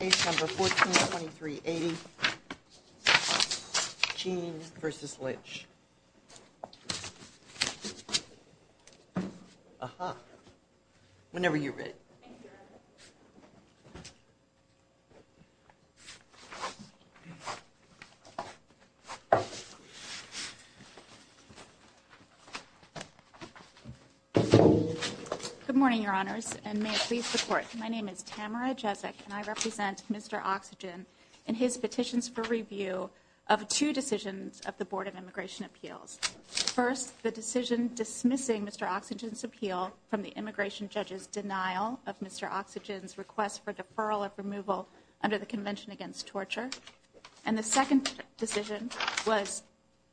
Page number 142380, Gene v. Lynch. Aha. Whenever you're ready. Good morning, Your Honors, and may it please the Court. My name is Tamara Jezik, and I represent Mr. Oxygen in his petitions for review of two decisions of the Board of Immigration Appeals. First, the decision dismissing Mr. Oxygen's appeal from the immigration judge's order, and the second decision was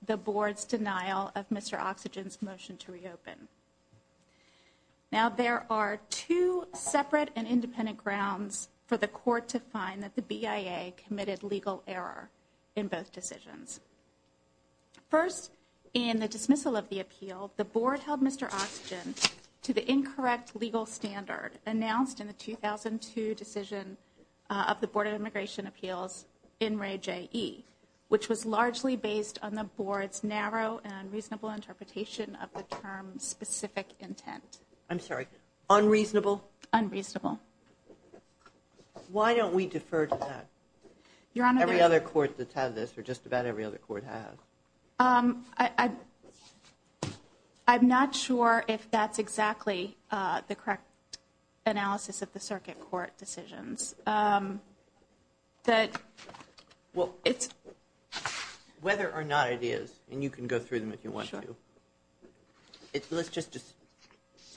the Board's denial of Mr. Oxygen's motion to reopen. Now there are two separate and independent grounds for the Court to find that the BIA committed legal error in both decisions. First, in the dismissal of the appeal, the Board held Mr. Oxygen to the incorrect legal standard announced in the 2002 decision of the Board of Immigration Appeals in RAE-JE, which was largely based on the Board's narrow and unreasonable interpretation of the term's specific intent. I'm sorry, unreasonable? Unreasonable. Why don't we defer to that? Every other court that's had this, or just about every other court has. I'm not sure if that's whether or not it is, and you can go through them if you want to.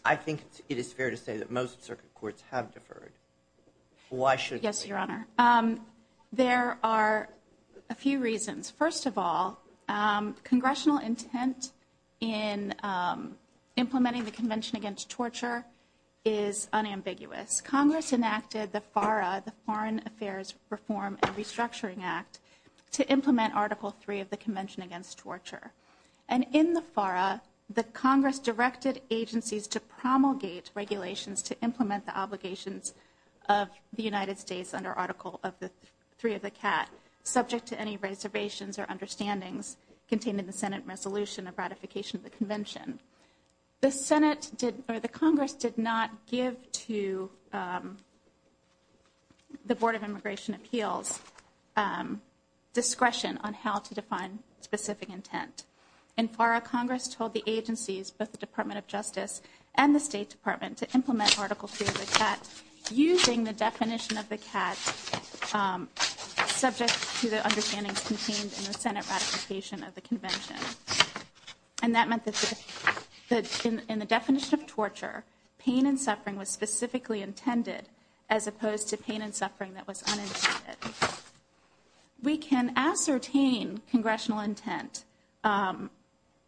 I think it is fair to say that most circuit courts have deferred. Why should they? Yes, Your Honor. There are a few reasons. First of all, congressional intent in implementing the Convention Against Torture is unambiguous. Congress enacted the FARA, the Foreign Affairs Reform and Restructuring Act, to implement Article III of the Convention Against Torture. And in the FARA, the Congress directed agencies to promulgate regulations to implement the obligations of the United States under Article III of the CAT, subject to any reservations or understandings contained in the Senate Resolution of Ratification of the Convention. The Congress did not give to the Board of Immigration Appeals discretion on how to define specific intent. In FARA, Congress told the agencies, both the Department of Justice and the State Department, to implement Article III of the CAT using the definition of the CAT, subject to the understandings contained in the Senate Ratification of the Convention. And that meant that in the definition of torture, pain and suffering was specifically intended, as opposed to pain and suffering that was unintended. We can ascertain congressional intent,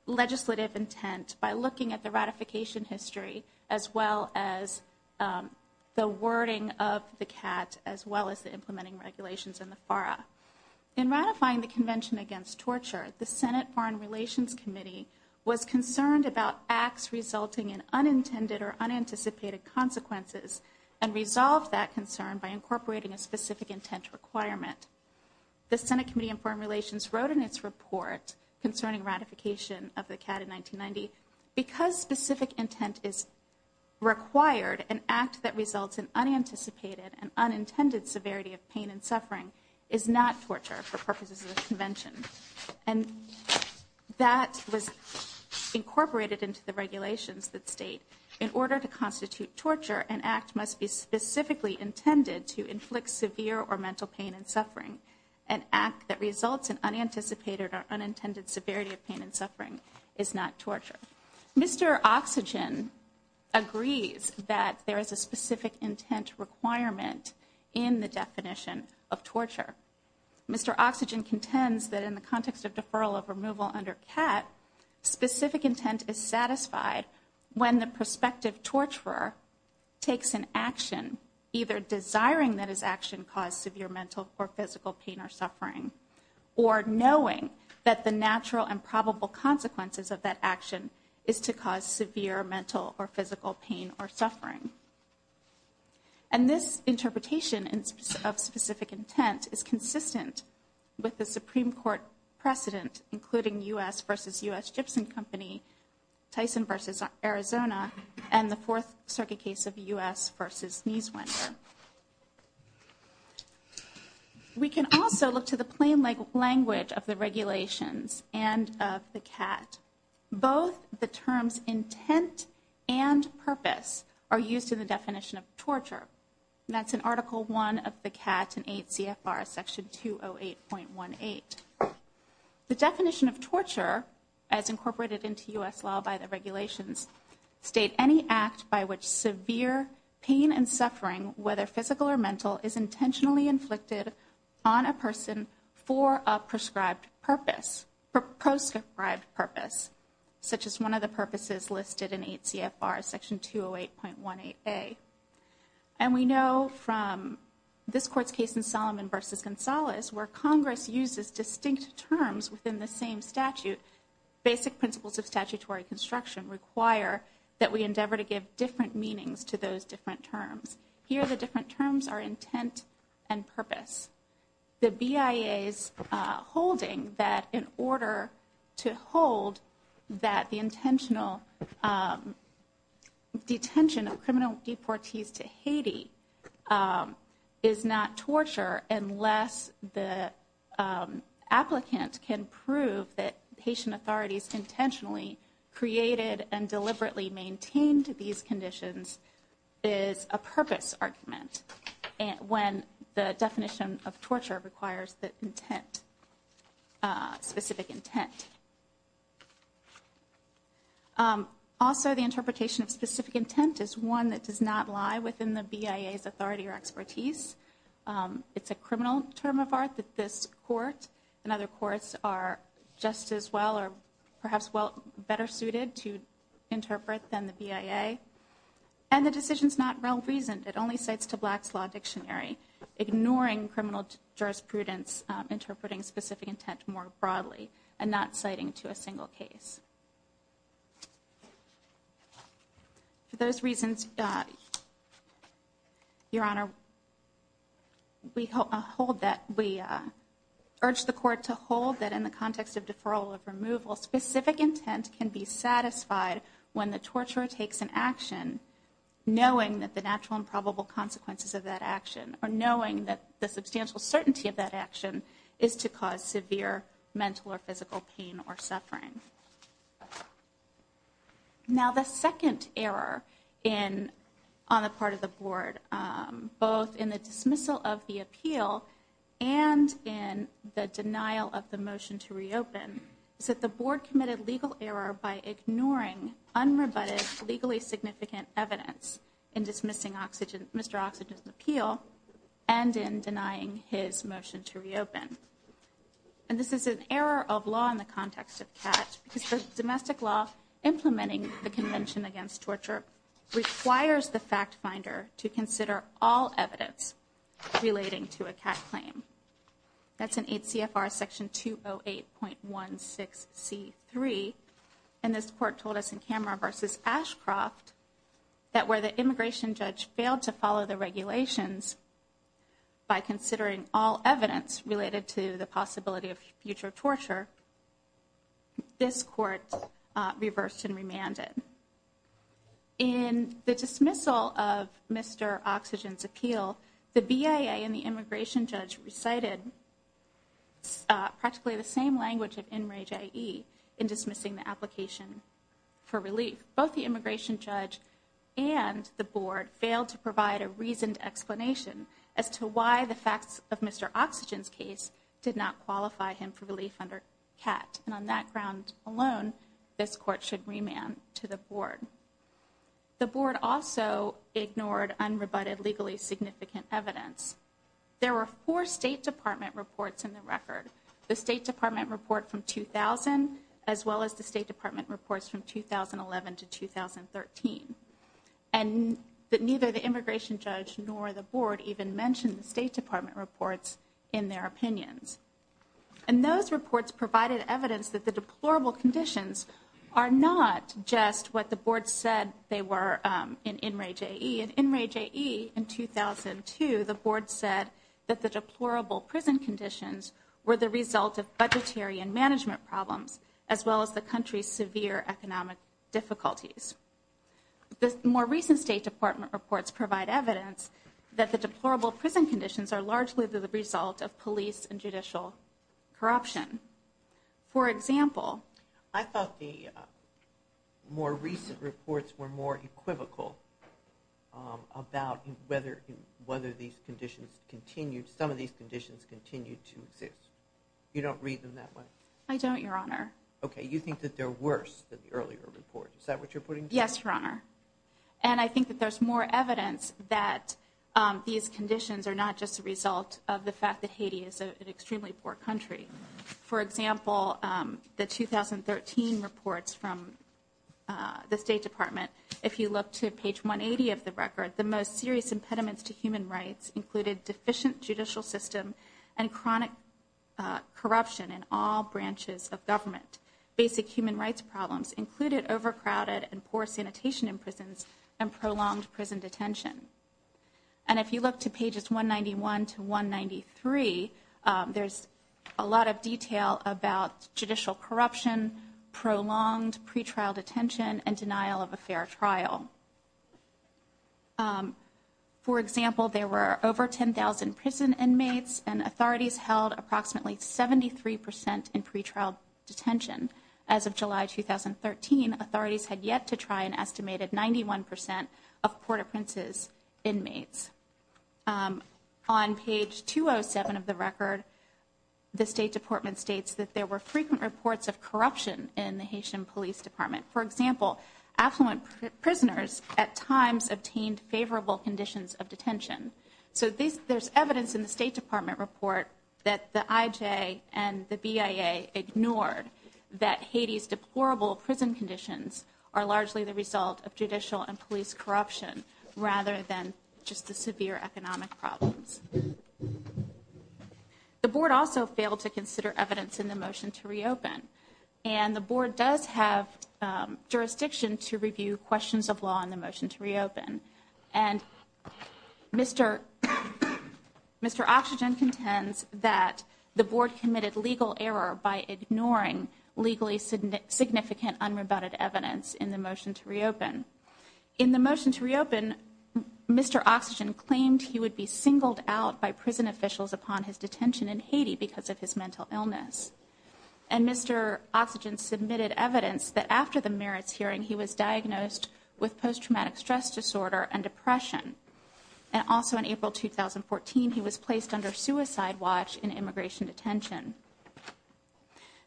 legislative intent, by looking at the ratification history, as well as the wording of the CAT, as well as the implementing regulations in the FARA. In ratifying the Convention Against Torture, the Senate Foreign Relations Committee was concerned about acts resulting in unintended or unanticipated consequences, and resolved that concern by incorporating a specific intent requirement. The Senate Committee on Foreign Relations wrote in its report concerning ratification of the CAT in 1990, because specific intent is required, an act that results in unanticipated and unintended severity of pain and suffering is not torture for purposes of the Convention. And that was incorporated into the regulations that state, in order to constitute torture, an act must be specifically intended to inflict severe or mental pain and suffering. An act that results in unanticipated or unintended severity of pain and suffering is not torture. Mr. Oxygen agrees that there is a specific intent requirement in the definition of torture. Mr. Oxygen contends that in the context of deferral of removal under CAT, specific intent is satisfied when the prospective torturer takes an action, either desiring that his action cause severe mental or physical pain or suffering, or knowing that the natural and probable consequences of that action is to cause severe mental or physical pain or suffering. And this interpretation of specific intent is consistent with the Supreme Court precedent, including U.S. v. U.S. Gibson Company, Tyson v. Arizona, and the Fourth Circuit case of U.S. v. Nieswender. We can also look to the plain language of the regulations and of the CAT. Both the terms intent and purpose are used in the definition of torture. That's in Article I of the CAT and 8 CFR, Section 208.18. The definition of torture, as incorporated into U.S. law by the regulations, state any act by which severe pain and suffering, whether physical or mental, is intentionally inflicted on a person for a proscribed purpose, such as one of the purposes listed in 8 CFR, Section 208.18a. And we know from this Court's case in Solomon v. Gonzalez, where Congress uses distinct terms within the same statute, basic principles of statutory construction require that we endeavor to give different meanings to those different terms. Here, the different terms are intent and purpose. The BIA is holding that in order to hold that the intentional detention of criminal deportees to Haiti is not torture unless the applicant can prove that patient authorities intentionally created and deliberately maintained these conditions is a purpose argument when the definition of torture requires the intent, specific intent. Also, the interpretation of specific intent is one that does not lie within the BIA's authority or expertise. It's a criminal term of art that this Court and other courts are just as well or perhaps better suited to interpret than the BIA. And the decision is not well-reasoned. It only cites to Black's Law Dictionary, ignoring criminal jurisprudence interpreting specific intent more broadly and not citing to a single case. For those reasons, Your Honor, we urge the Court to hold that in the context of deferral of removal, specific intent can be satisfied when the torturer takes an action knowing that the natural and probable consequences of that action or knowing that the substantial suffering. Now, the second error on the part of the Board, both in the dismissal of the appeal and in the denial of the motion to reopen, is that the Board committed legal error by ignoring unrebutted, legally significant evidence in dismissing Mr. Oxygen's appeal and in denying his motion to reopen. And this is an error of law in the context of CAT, because the domestic law implementing the Convention Against Torture requires the fact finder to consider all evidence relating to a CAT claim. That's in 8 CFR Section 208.16C3, and this Court told us in Kammerer v. Ashcroft that where the immigration judge failed to follow the regulations by considering all evidence related to the possibility of future torture, this Court reversed and remanded. In the dismissal of Mr. Oxygen's appeal, the BIA and the immigration judge recited practically the same language of enrage I.E. in dismissing the application for relief. Both the immigration judge and the Board failed to provide a reasoned explanation as to why the facts of Mr. Oxygen's case did not qualify him for relief under CAT. And on that ground alone, this Court should remand to the Board. The Board also ignored unrebutted, legally significant evidence. There were four State Department reports in the record. The State Department report from 2000, as well as the State Department reports from 2011 to 2013. And neither the immigration judge nor the Board even mentioned the State Department reports in their opinions. And those reports provided evidence that the deplorable conditions are not just what the Board said they were in enrage I.E. In enrage I.E. in 2002, the Board said that the deplorable prison conditions were the result of budgetary and management problems, as well as the country's severe economic difficulties. The more recent State Department reports provide evidence that the deplorable prison conditions are largely the result of police and judicial corruption. For example... I thought the more recent reports were more equivocal about whether these conditions continued, some of these conditions continued to exist. You don't read them that way? I don't, Your Honor. Okay, you think that they're worse than the earlier report. Is that what you're putting? Yes, Your Honor. And I think that there's more evidence that these conditions are not just the result of the fact that Haiti is an extremely poor country. For example, the 2013 reports from the State Department, if you look to page 180 of the record, the most serious impediments to human rights included deficient judicial system and chronic corruption in all branches of government. Basic human rights problems included overcrowded and poor sanitation in prisons and if you look to pages 191 to 193, there's a lot of detail about judicial corruption, prolonged pretrial detention, and denial of a fair trial. For example, there were over 10,000 prison inmates and authorities held approximately 73 percent in pretrial inmates. On page 207 of the record, the State Department states that there were frequent reports of corruption in the Haitian Police Department. For example, affluent prisoners at times obtained favorable conditions of detention. So there's evidence in the State Department report that the IJ and the BIA ignored that Haiti's deplorable prison conditions are largely the result of judicial and police corruption rather than just the severe economic problems. The Board also failed to consider evidence in the motion to reopen and the Board does have jurisdiction to review questions of law in the motion to reopen and Mr. Oxygen contends that the Board committed legal error by ignoring legally significant unrebutted evidence in the motion to reopen. In the motion to reopen, Mr. Oxygen claimed he would be singled out by prison officials upon his detention in Haiti because of his mental illness and Mr. Oxygen submitted evidence that after the merits hearing, he was diagnosed with post-traumatic stress disorder and depression and also in April 2014, he was placed under suicide watch in Haiti.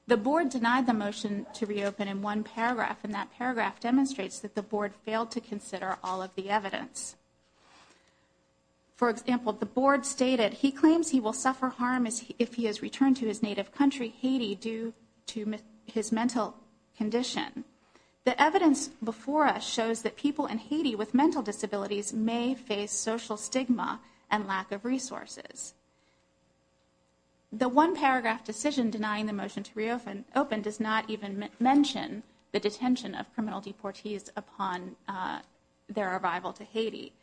The Board denied the motion to reopen in one paragraph and that paragraph demonstrates that the Board failed to consider all of the evidence. For example, the Board stated he claims he will suffer harm if he is returned to his native country, Haiti, due to his mental condition. The evidence before us shows that people in Haiti with mental disabilities may face social stigma and lack of resources. The one paragraph decision denying the motion to reopen does not even mention the detention of criminal deportees upon their arrival to Haiti.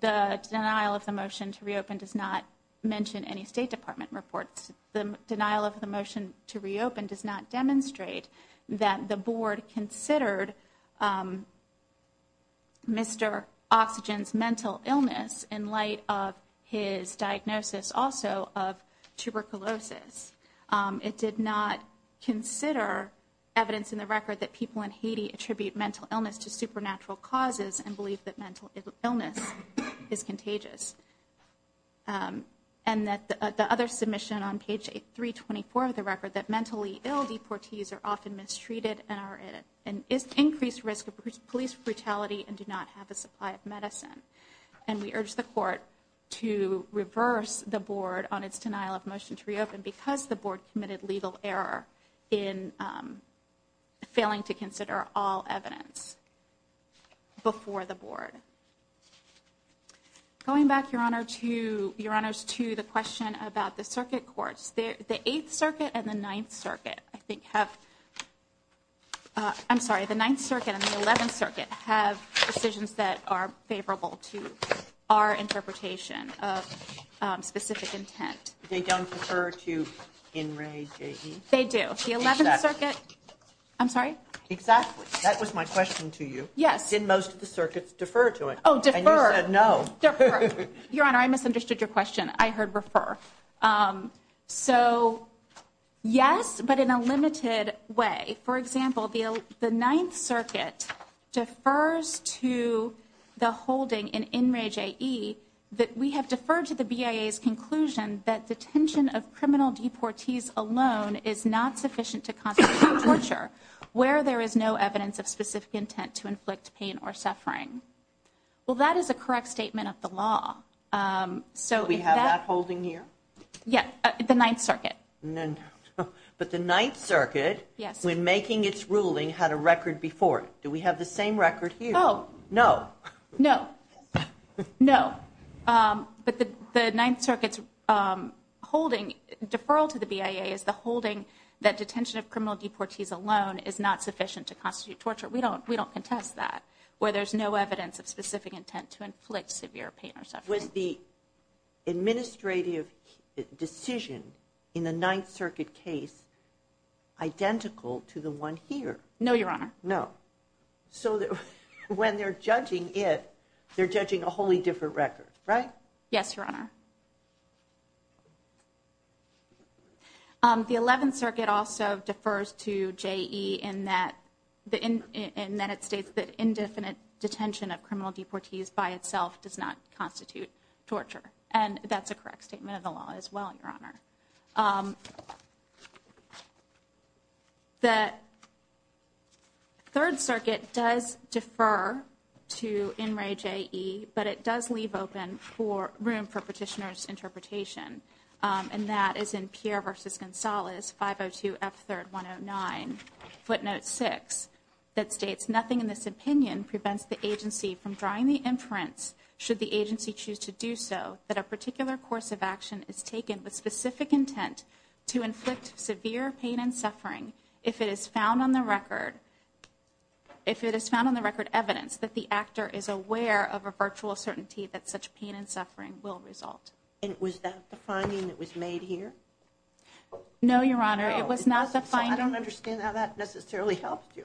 The denial of the motion to reopen does not mention any State Department reports. The denial of the motion to reopen does not demonstrate that the Board considered Mr. Oxygen's mental illness in light of his diagnosis also of tuberculosis. It did not consider evidence in the record that people in Haiti attribute mental illness to supernatural causes and believe that mental illness is contagious. And that the other submission on page 324 of the record that mentally ill deportees are often mistreated and are at an increased risk of police brutality and do not have a supply of medicine. And we urge the Court to reverse the Board on its denial of motion to reopen because the Board committed legal error in failing to consider all evidence before the Board. Going back, Your Honor, to the question about the circuit courts. The Eighth Circuit and the Ninth Circuit, I think, have, I'm sorry, the Ninth Circuit and the Eleventh Circuit have decisions that are favorable to our interpretation of specific intent. They don't refer to Henry, J.E.? They do. The Eleventh Circuit, I'm sorry? Exactly. That was my question to you. Yes. And most of the circuits defer to it. Oh, defer. And you said no. Defer. Your Honor, I misunderstood your question. I heard refer. So, yes, but in a limited way. For example, the Ninth Circuit defers to the holding in Henry, J.E. that we have deferred to the BIA's conclusion that detention of criminal deportees alone is not sufficient to constitute torture where there is no evidence of specific intent to inflict pain or suffering. Well, that is a correct statement of the law. So, we have that holding here? Yes. The Ninth Circuit. But the Ninth Circuit, when making its ruling, had a record before. Do we have the same record here? Oh. No. No. But the Ninth Circuit's deferral to the BIA is the holding that detention of criminal deportees alone is not sufficient to constitute torture. We don't contest that where there is no evidence of specific intent to inflict severe pain or suffering. Was the administrative decision in the Ninth Circuit case identical to the one here? No, Your Honor. No. So, when they're judging it, they're judging a wholly different record, right? Yes, Your Honor. The Eleventh Circuit also defers to J.E. in that it states that indefinite detention of criminal deportees by itself does not constitute torture. And that's a correct statement of the law as well, Your Honor. The Third Circuit does defer to N. Ray J.E., but it does leave room for petitioner's interpretation. And that is in Pierre v. Gonzalez, 502 F. 3rd 109, footnote 6, that states, that a particular course of action is taken with specific intent to inflict severe pain and suffering if it is found on the record evidence that the actor is aware of a virtual certainty that such pain and suffering will result. And was that the finding that was made here? No, Your Honor. It was not the finding. I don't understand how that necessarily helped you.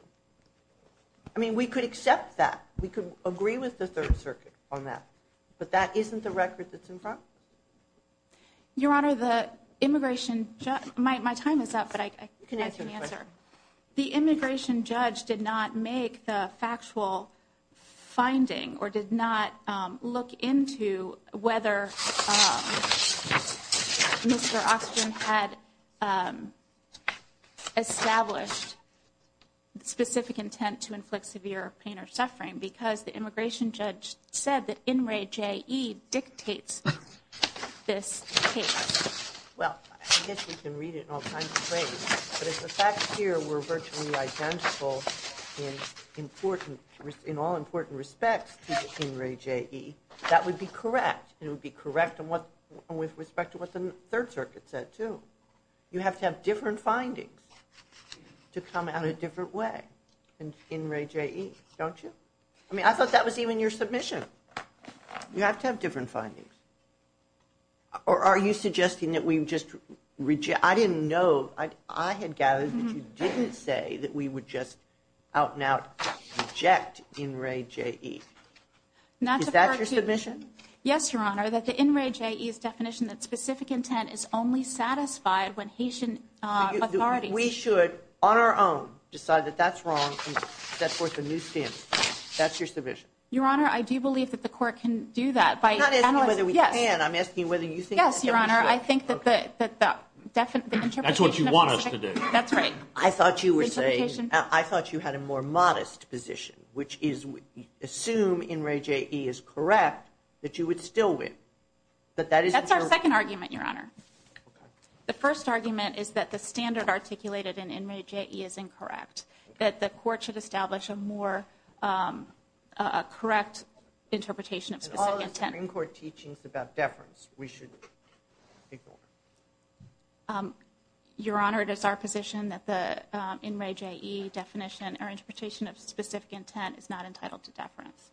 I mean, we could accept that. We could agree with the Third Circuit on that. But that isn't the record that's in front? Your Honor, the immigration judge, my time is up, but I can answer. The immigration judge did not make the factual finding or did not look into whether Mr. Oxygen had established specific intent to inflict severe pain or suffering because the immigration judge said that N. Ray J.E. dictates this case. Well, I guess we can read it in all kinds of ways. But if the facts here were virtually identical in all important respects to N. Ray J.E., that would be correct. It would be correct with respect to what the Third Circuit said, too. You have to have different findings to come out a different way than N. Ray J.E., don't you? I mean, I thought that was even your submission. You have to have different findings. Or are you suggesting that we just reject? I didn't know. I had gathered that you didn't say that we would just out and out reject N. Ray J.E. Is that your submission? Yes, Your Honor, that the N. Ray J.E.'s definition that specific intent is only satisfied when Haitian authorities We should, on our own, decide that that's wrong and set forth a new standard. That's your submission. Your Honor, I do believe that the court can do that. I'm not asking whether we can. I'm asking whether you think that we should. Yes, Your Honor, I think that the interpretation of the Third Circuit That's what you want us to do. That's right. I thought you had a more modest position, which is assume N. Ray J.E. is correct, that you would still win. That's our second argument, Your Honor. The first argument is that the standard articulated in N. Ray J.E. is incorrect. That the court should establish a more correct interpretation of specific intent. And all the Supreme Court teachings about deference, we should ignore. Your Honor, it is our position that the N. Ray J.E. definition or interpretation of specific intent is not entitled to deference.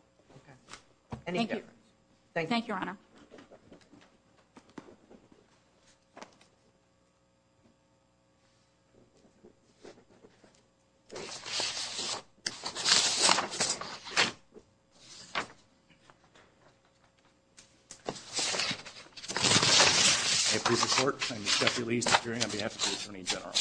Any deference. I approve the court. I'm Jeffrey Lee. I'm appearing on behalf of the Attorney General.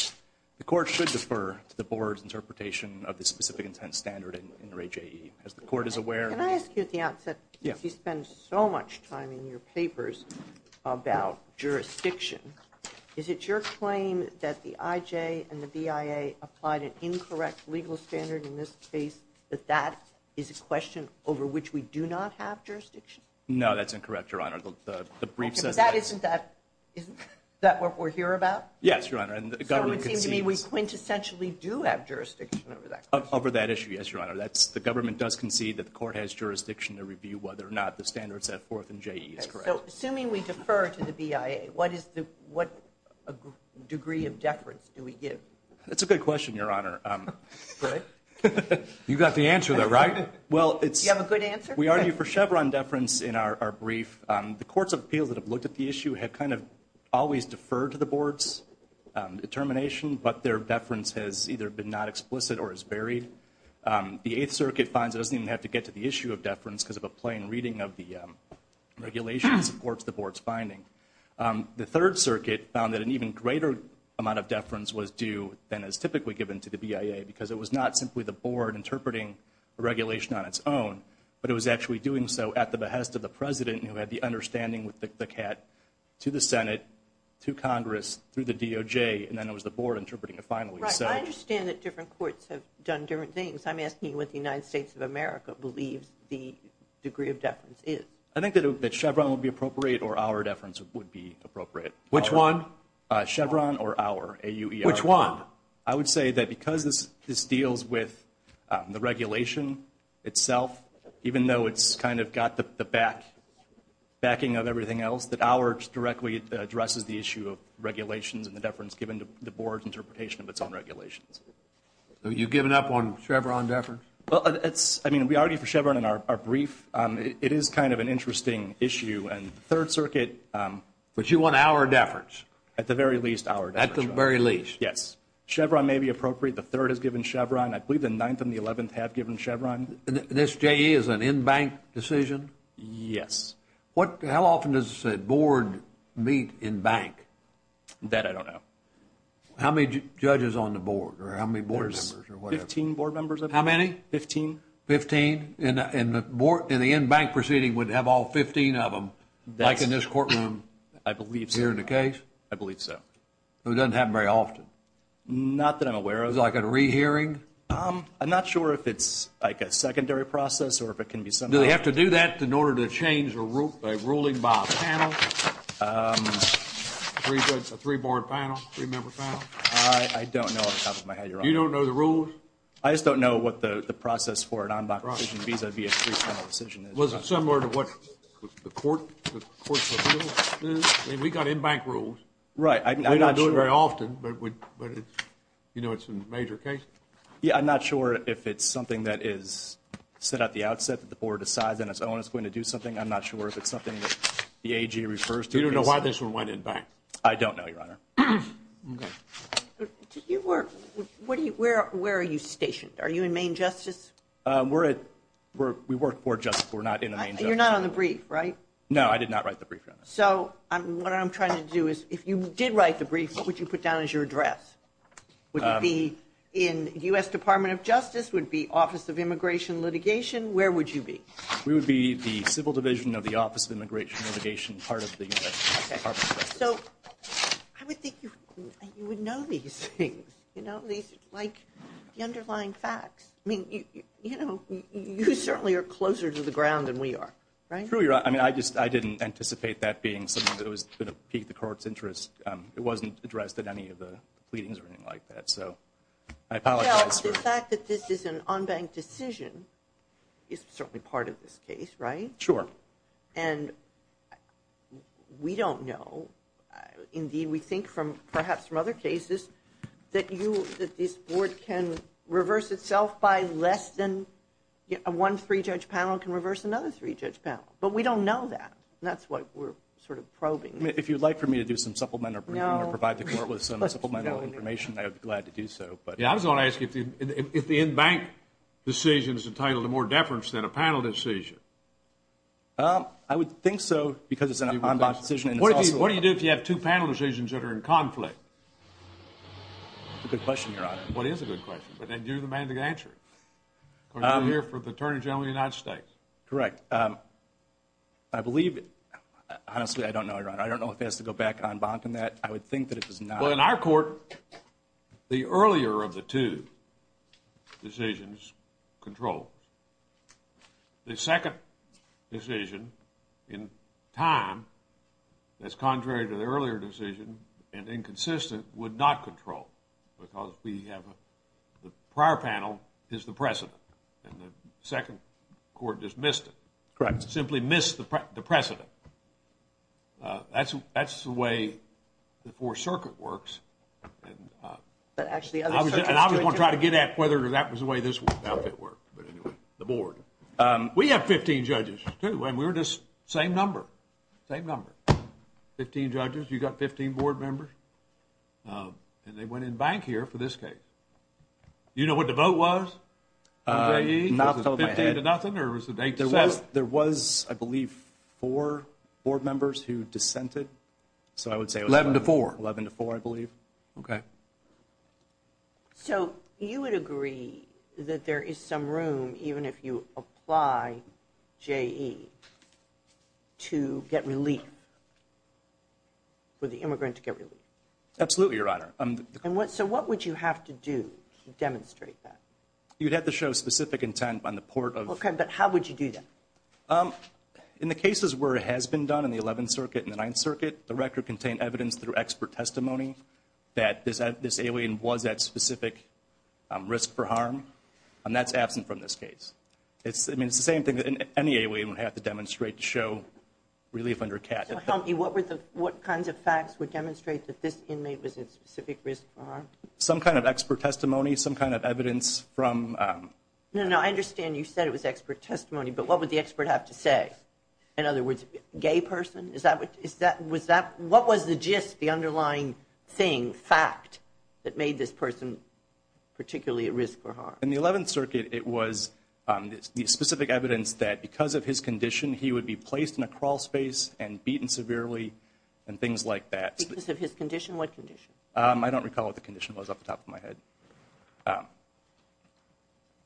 The court should defer to the board's interpretation of the specific intent standard in N. Ray J.E. As the court is aware Can I ask you at the outset? Yes. You spend so much time in your papers about jurisdiction. Is it your claim that the I.J. and the B.I.A. applied an incorrect legal standard in this case? That that is a question over which we do not have jurisdiction? No, that's incorrect, Your Honor. The brief says that. Isn't that what we're here about? Yes, Your Honor. So it seems to me we quintessentially do have jurisdiction over that question. Over that issue, yes, Your Honor. That's the government does concede that the court has jurisdiction to review whether or not the standards at 4th and J.E. is correct. So assuming we defer to the B.I.A., what is the what degree of deference do we give? That's a good question, Your Honor. You got the answer there, right? Well, it's. You have a good answer? We argue for Chevron deference in our brief. The courts of appeals that have looked at the issue have kind of always deferred to the board's determination. But their deference has either been not explicit or is buried. The 8th Circuit finds it doesn't even have to get to the issue of deference because of a plain reading of the regulation supports the board's finding. The 3rd Circuit found that an even greater amount of deference was due than is typically given to the B.I.A. because it was not simply the board interpreting a regulation on its own, but it was actually doing so at the behest of the president who had the understanding with the CAT to the Senate, to Congress, through the D.O.J., and then it was the board interpreting it finally. Right. I understand that different courts have done different things. I'm asking you what the United States of America believes the degree of deference is. I think that Chevron would be appropriate or our deference would be appropriate. Which one? Chevron or our, A-U-E-R. Which one? I would say that because this deals with the regulation itself, even though it's kind of got the backing of everything else, that ours directly addresses the issue of regulations and the deference given to the board's interpretation of its own regulations. So you've given up on Chevron deference? Well, I mean, we argued for Chevron in our brief. It is kind of an interesting issue, and the 3rd Circuit. But you want our deference? At the very least, our deference. At the very least. Yes. Chevron may be appropriate. The 3rd has given Chevron. I believe the 9th and the 11th have given Chevron. And this J.E. is an in-bank decision? Yes. How often does a board meet in-bank? That I don't know. How many judges on the board, or how many board members? There's 15 board members. How many? Fifteen. Fifteen? And the in-bank proceeding would have all 15 of them, like in this courtroom? I believe so. Here in the case? I believe so. It doesn't happen very often? Not that I'm aware of. Is it like a rehearing? I'm not sure if it's like a secondary process or if it can be somehow. Do they have to do that in order to change a ruling by a panel? A three-board panel? Three-member panel? I don't know off the top of my head. You don't know the rules? I just don't know what the process for an on-bank decision vis-à-vis a three-panel decision is. Was it similar to what the courts of appeals do? I mean, we've got in-bank rules. Right. We don't do it very often, but you know it's a major case? Yeah, I'm not sure if it's something that is set at the outset, that the board decides on its own it's going to do something. I'm not sure if it's something that the AG refers to. You don't know why this one went in-bank? I don't know, Your Honor. Okay. Where are you stationed? Are you in Maine Justice? We work for Justice. We're not in Maine Justice. You're not on the brief, right? No, I did not write the brief. So what I'm trying to do is, if you did write the brief, what would you put down as your address? Would it be in U.S. Department of Justice? Would it be Office of Immigration Litigation? Where would you be? We would be the Civil Division of the Office of Immigration Litigation, part of the U.S. Department of Justice. Okay. So I would think you would know these things, you know, like the underlying facts. I mean, you know, you certainly are closer to the ground than we are, right? True, Your Honor. I mean, I didn't anticipate that being something that was going to pique the court's interest. It wasn't addressed at any of the pleadings or anything like that. So I apologize. The fact that this is an unbanked decision is certainly part of this case, right? Sure. And we don't know. Indeed, we think, perhaps from other cases, that this board can reverse itself by less than one three-judge panel can reverse another three-judge panel. But we don't know that, and that's what we're sort of probing. If you would like for me to do some supplement or provide the court with some supplemental information, I would be glad to do so. Yeah, I was going to ask if the in-bank decision is entitled to more deference than a panel decision. I would think so, because it's an unbanked decision. What do you do if you have two panel decisions that are in conflict? That's a good question, Your Honor. Well, it is a good question, but then you're the man to answer it. Because you're here for the Attorney General of the United States. Correct. I believe it. Honestly, I don't know, Your Honor. I don't know if it has to go back to unbanking that. I would think that it does not. Well, in our court, the earlier of the two decisions controls. The second decision, in time, that's contrary to the earlier decision and inconsistent, would not control, because the prior panel is the precedent, and the second court just missed it. Correct. Simply missed the precedent. That's the way the Fourth Circuit works. But actually, other circuits do it, too. And I was going to try to get at whether that was the way this outfit worked. But anyway, the board. We have 15 judges, too, and we're just the same number. Same number. 15 judges. You've got 15 board members. And they went in bankier for this case. Do you know what the vote was? Not off the top of my head. Was it 15 to nothing, or was it 8 to 7? There was, I believe, four board members who dissented. So I would say it was 11 to 4. 11 to 4, I believe. Okay. So you would agree that there is some room, even if you apply J.E., to get relief, for the immigrant to get relief? Absolutely, Your Honor. So what would you have to do to demonstrate that? You'd have to show specific intent on the part of... Okay, but how would you do that? In the cases where it has been done in the Eleventh Circuit and the Ninth Circuit, the record contained evidence through expert testimony that this alien was at specific risk for harm, and that's absent from this case. I mean, it's the same thing that any alien would have to demonstrate to show relief under CAT. So tell me, what kinds of facts would demonstrate that this inmate was at specific risk for harm? Some kind of expert testimony, some kind of evidence from... No, no, I understand you said it was expert testimony, but what would the expert have to say? In other words, gay person? What was the gist, the underlying thing, fact, that made this person particularly at risk for harm? In the Eleventh Circuit, it was the specific evidence that because of his condition, he would be placed in a crawl space and beaten severely and things like that. Because of his condition? What condition? I don't recall what the condition was off the top of my head.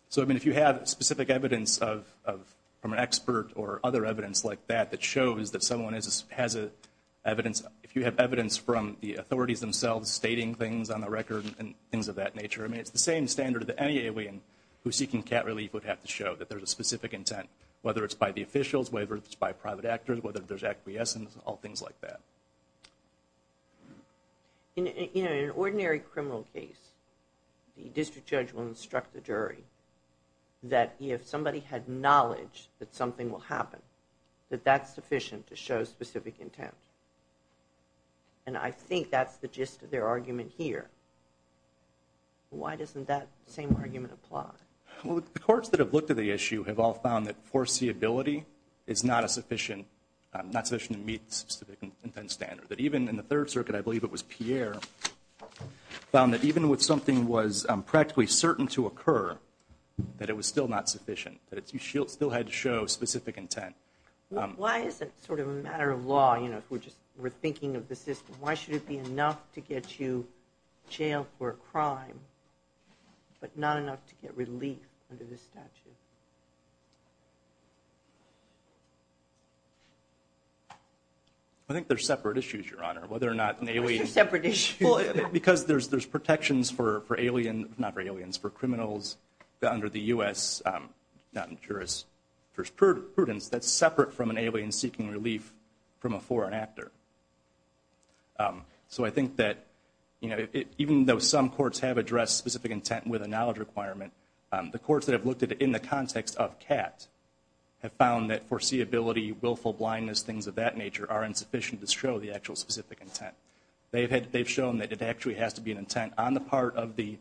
So, I mean, if you have specific evidence from an expert or other evidence like that that shows that someone has evidence... If you have evidence from the authorities themselves stating things on the record and things of that nature, I mean, it's the same standard that any alien who's seeking CAT relief would have to show, that there's a specific intent, whether it's by the officials, whether it's by private actors, whether there's acquiescence, all things like that. In an ordinary criminal case, the district judge will instruct the jury that if somebody had knowledge that something will happen, that that's sufficient to show specific intent. And I think that's the gist of their argument here. Why doesn't that same argument apply? Well, the courts that have looked at the issue have all found that foreseeability is not sufficient to meet the specific intent standard. That even in the Third Circuit, I believe it was Pierre, found that even with something was practically certain to occur, that it was still not sufficient. That you still had to show specific intent. Why is it sort of a matter of law, you know, if we're thinking of the system, why should it be enough to get you jailed for a crime, but not enough to get relief under this statute? I think they're separate issues, Your Honor. They're separate issues. Because there's protections for aliens, not for aliens, for criminals under the U.S. jurisprudence that's separate from an alien seeking relief from a foreign actor. So I think that, you know, even though some courts have addressed specific intent with a knowledge requirement, the courts that have looked at it in the context of CAT have found that foreseeability, willful blindness, things of that nature, are insufficient to show the actual specific intent. They've shown that it actually has to be an intent on the part of the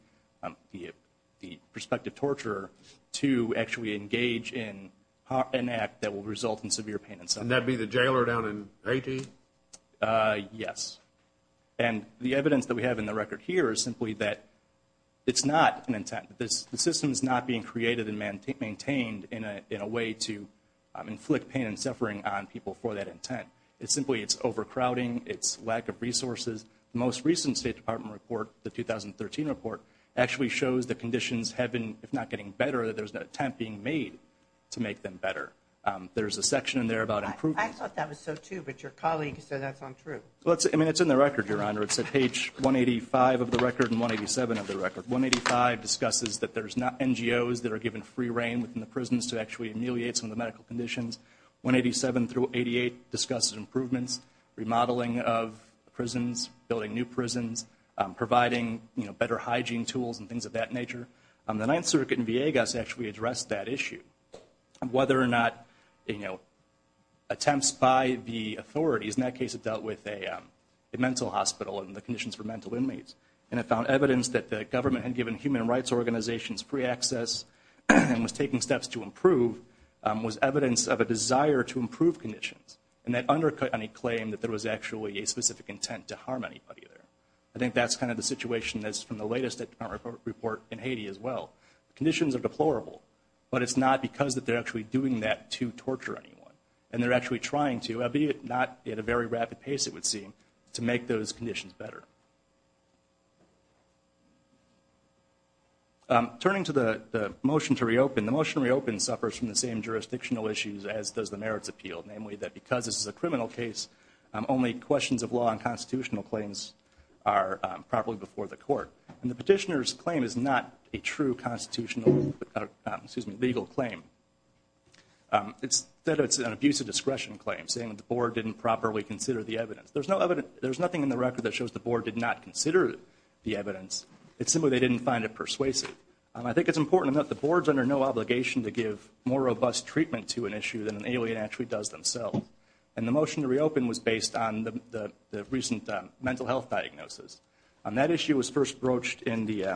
prospective torturer to actually engage in an act that will result in severe pain and suffering. And that would be the jailer down in Haiti? Yes. And the evidence that we have in the record here is simply that it's not an intent. The system is not being created and maintained in a way to inflict pain and suffering on people for that intent. It's simply it's overcrowding, it's lack of resources. The most recent State Department report, the 2013 report, actually shows that conditions have been, if not getting better, that there's an attempt being made to make them better. There's a section in there about improvement. I thought that was so too, but your colleague said that's untrue. I mean, it's in the record, Your Honor. It's at page 185 of the record and 187 of the record. 185 discusses that there's NGOs that are given free reign within the prisons to actually ameliorate some of the medical conditions. 187 through 88 discusses improvements, remodeling of prisons, building new prisons, providing better hygiene tools and things of that nature. Whether or not, you know, attempts by the authorities, in that case it dealt with a mental hospital and the conditions for mental inmates. And it found evidence that the government had given human rights organizations free access and was taking steps to improve was evidence of a desire to improve conditions. And that undercut any claim that there was actually a specific intent to harm anybody there. I think that's kind of the situation that's from the latest State Department report in Haiti as well. Conditions are deplorable, but it's not because that they're actually doing that to torture anyone. And they're actually trying to, albeit not at a very rapid pace it would seem, to make those conditions better. Turning to the motion to reopen, the motion to reopen suffers from the same jurisdictional issues as does the merits appeal. Namely, that because this is a criminal case, only questions of law and constitutional claims are properly before the court. And the petitioner's claim is not a true constitutional, excuse me, legal claim. It's that it's an abuse of discretion claim, saying that the board didn't properly consider the evidence. There's no evidence, there's nothing in the record that shows the board did not consider the evidence. It's simply they didn't find it persuasive. I think it's important that the board's under no obligation to give more robust treatment to an issue than an alien actually does themselves. And the motion to reopen was based on the recent mental health diagnosis. That issue was first broached in the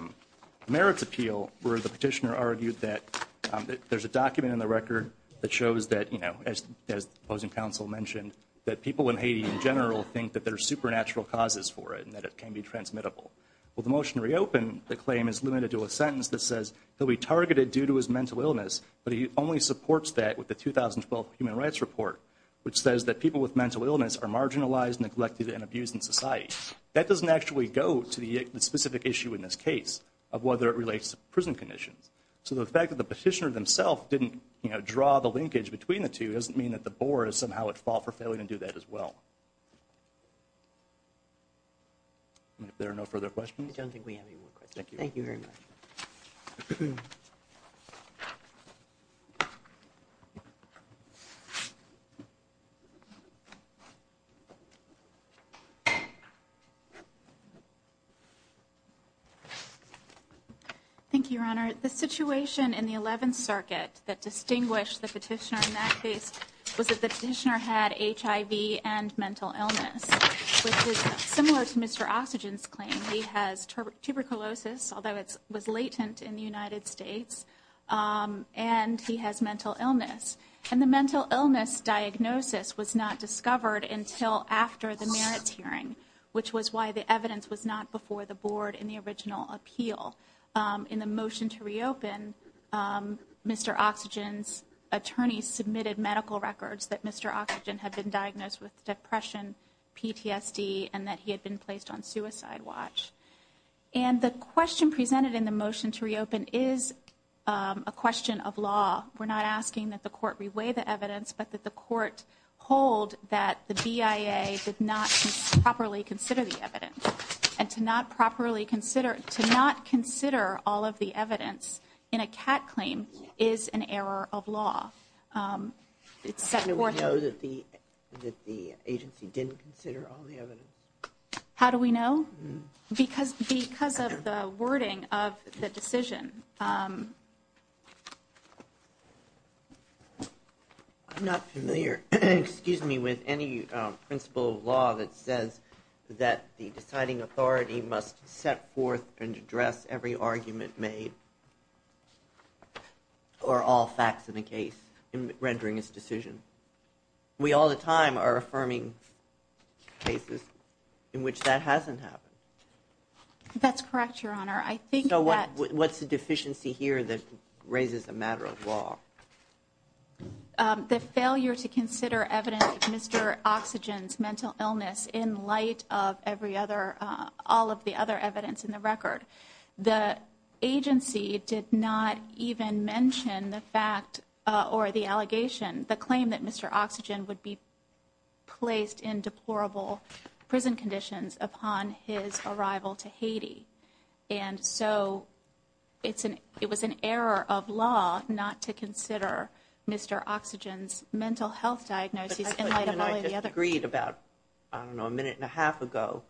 merits appeal where the petitioner argued that there's a document in the record that shows that, you know, as the opposing counsel mentioned, that people in Haiti in general think that there are supernatural causes for it and that it can be transmittable. Well, the motion to reopen, the claim is limited to a sentence that says he'll be targeted due to his mental illness, but he only supports that with the 2012 Human Rights Report, which says that people with mental illness are marginalized, neglected, and abused in society. That doesn't actually go to the specific issue in this case of whether it relates to prison conditions. So the fact that the petitioner themselves didn't, you know, draw the linkage between the two doesn't mean that the board somehow would fall for failing to do that as well. If there are no further questions. I don't think we have any more questions. Thank you. Thank you very much. Thank you, Your Honor. The situation in the 11th Circuit that distinguished the petitioner in that case was that the petitioner had HIV and mental illness, which was similar to Mr. Oxygen's claim. He has tuberculosis, although it was latent in the United States, and he has mental illness. And the mental illness diagnosis was not discovered until after the merits hearing, which was why the evidence was not before the board in the original appeal. In the motion to reopen, Mr. Oxygen's attorney submitted medical records that Mr. Oxygen had been diagnosed with depression, PTSD, and that he had been placed on suicide watch. And the question presented in the motion to reopen is a question of law. We're not asking that the court reweigh the evidence, but that the court hold that the BIA did not properly consider the evidence. And to not properly consider, to not consider all of the evidence in a cat claim is an error of law. How do we know that the agency didn't consider all the evidence? How do we know? Because of the wording of the decision. I'm not familiar, excuse me, with any principle of law that says that the deciding authority must set forth and address every argument made or all facts in the case in rendering its decision. We all the time are affirming cases in which that hasn't happened. That's correct, Your Honor. So what's the deficiency here that raises a matter of law? The failure to consider evidence of Mr. Oxygen's mental illness in light of every other, all of the other evidence in the record. The agency did not even mention the fact or the allegation, the claim that Mr. Oxygen would be placed in deplorable prison conditions upon his arrival to Haiti. And so it was an error of law not to consider Mr. Oxygen's mental health diagnosis in light of all of the other. I just agreed about, I don't know, a minute and a half ago,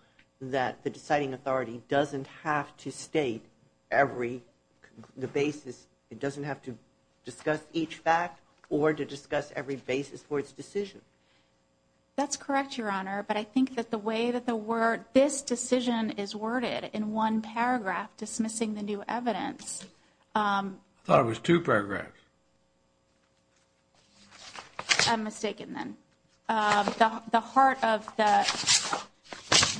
that the deciding authority doesn't have to state every, the basis, it doesn't have to discuss each fact or to discuss every basis for its decision. That's correct, Your Honor. But I think that the way that the word, this decision is worded in one paragraph dismissing the new evidence. I thought it was two paragraphs. I'm mistaken then. The heart of the,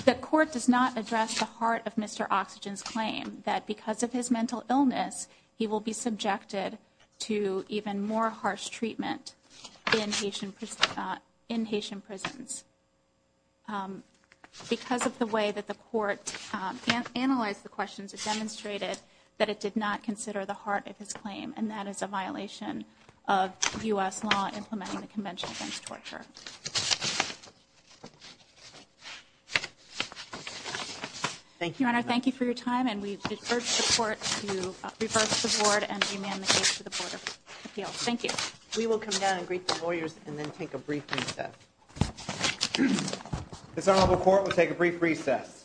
the court does not address the heart of Mr. Oxygen's claim that because of his mental illness, he will be subjected to even more harsh treatment in Haitian prisons. Because of the way that the court analyzed the questions, it demonstrated that it did not consider the heart of his claim, and that is a violation of U.S. law implementing the Convention Against Torture. Thank you, Your Honor. Thank you for your time, and we urge the court to reverse the board and demand the case to the Board of Appeals. Thank you. We will come down and greet the lawyers and then take a brief recess. This honorable court will take a brief recess.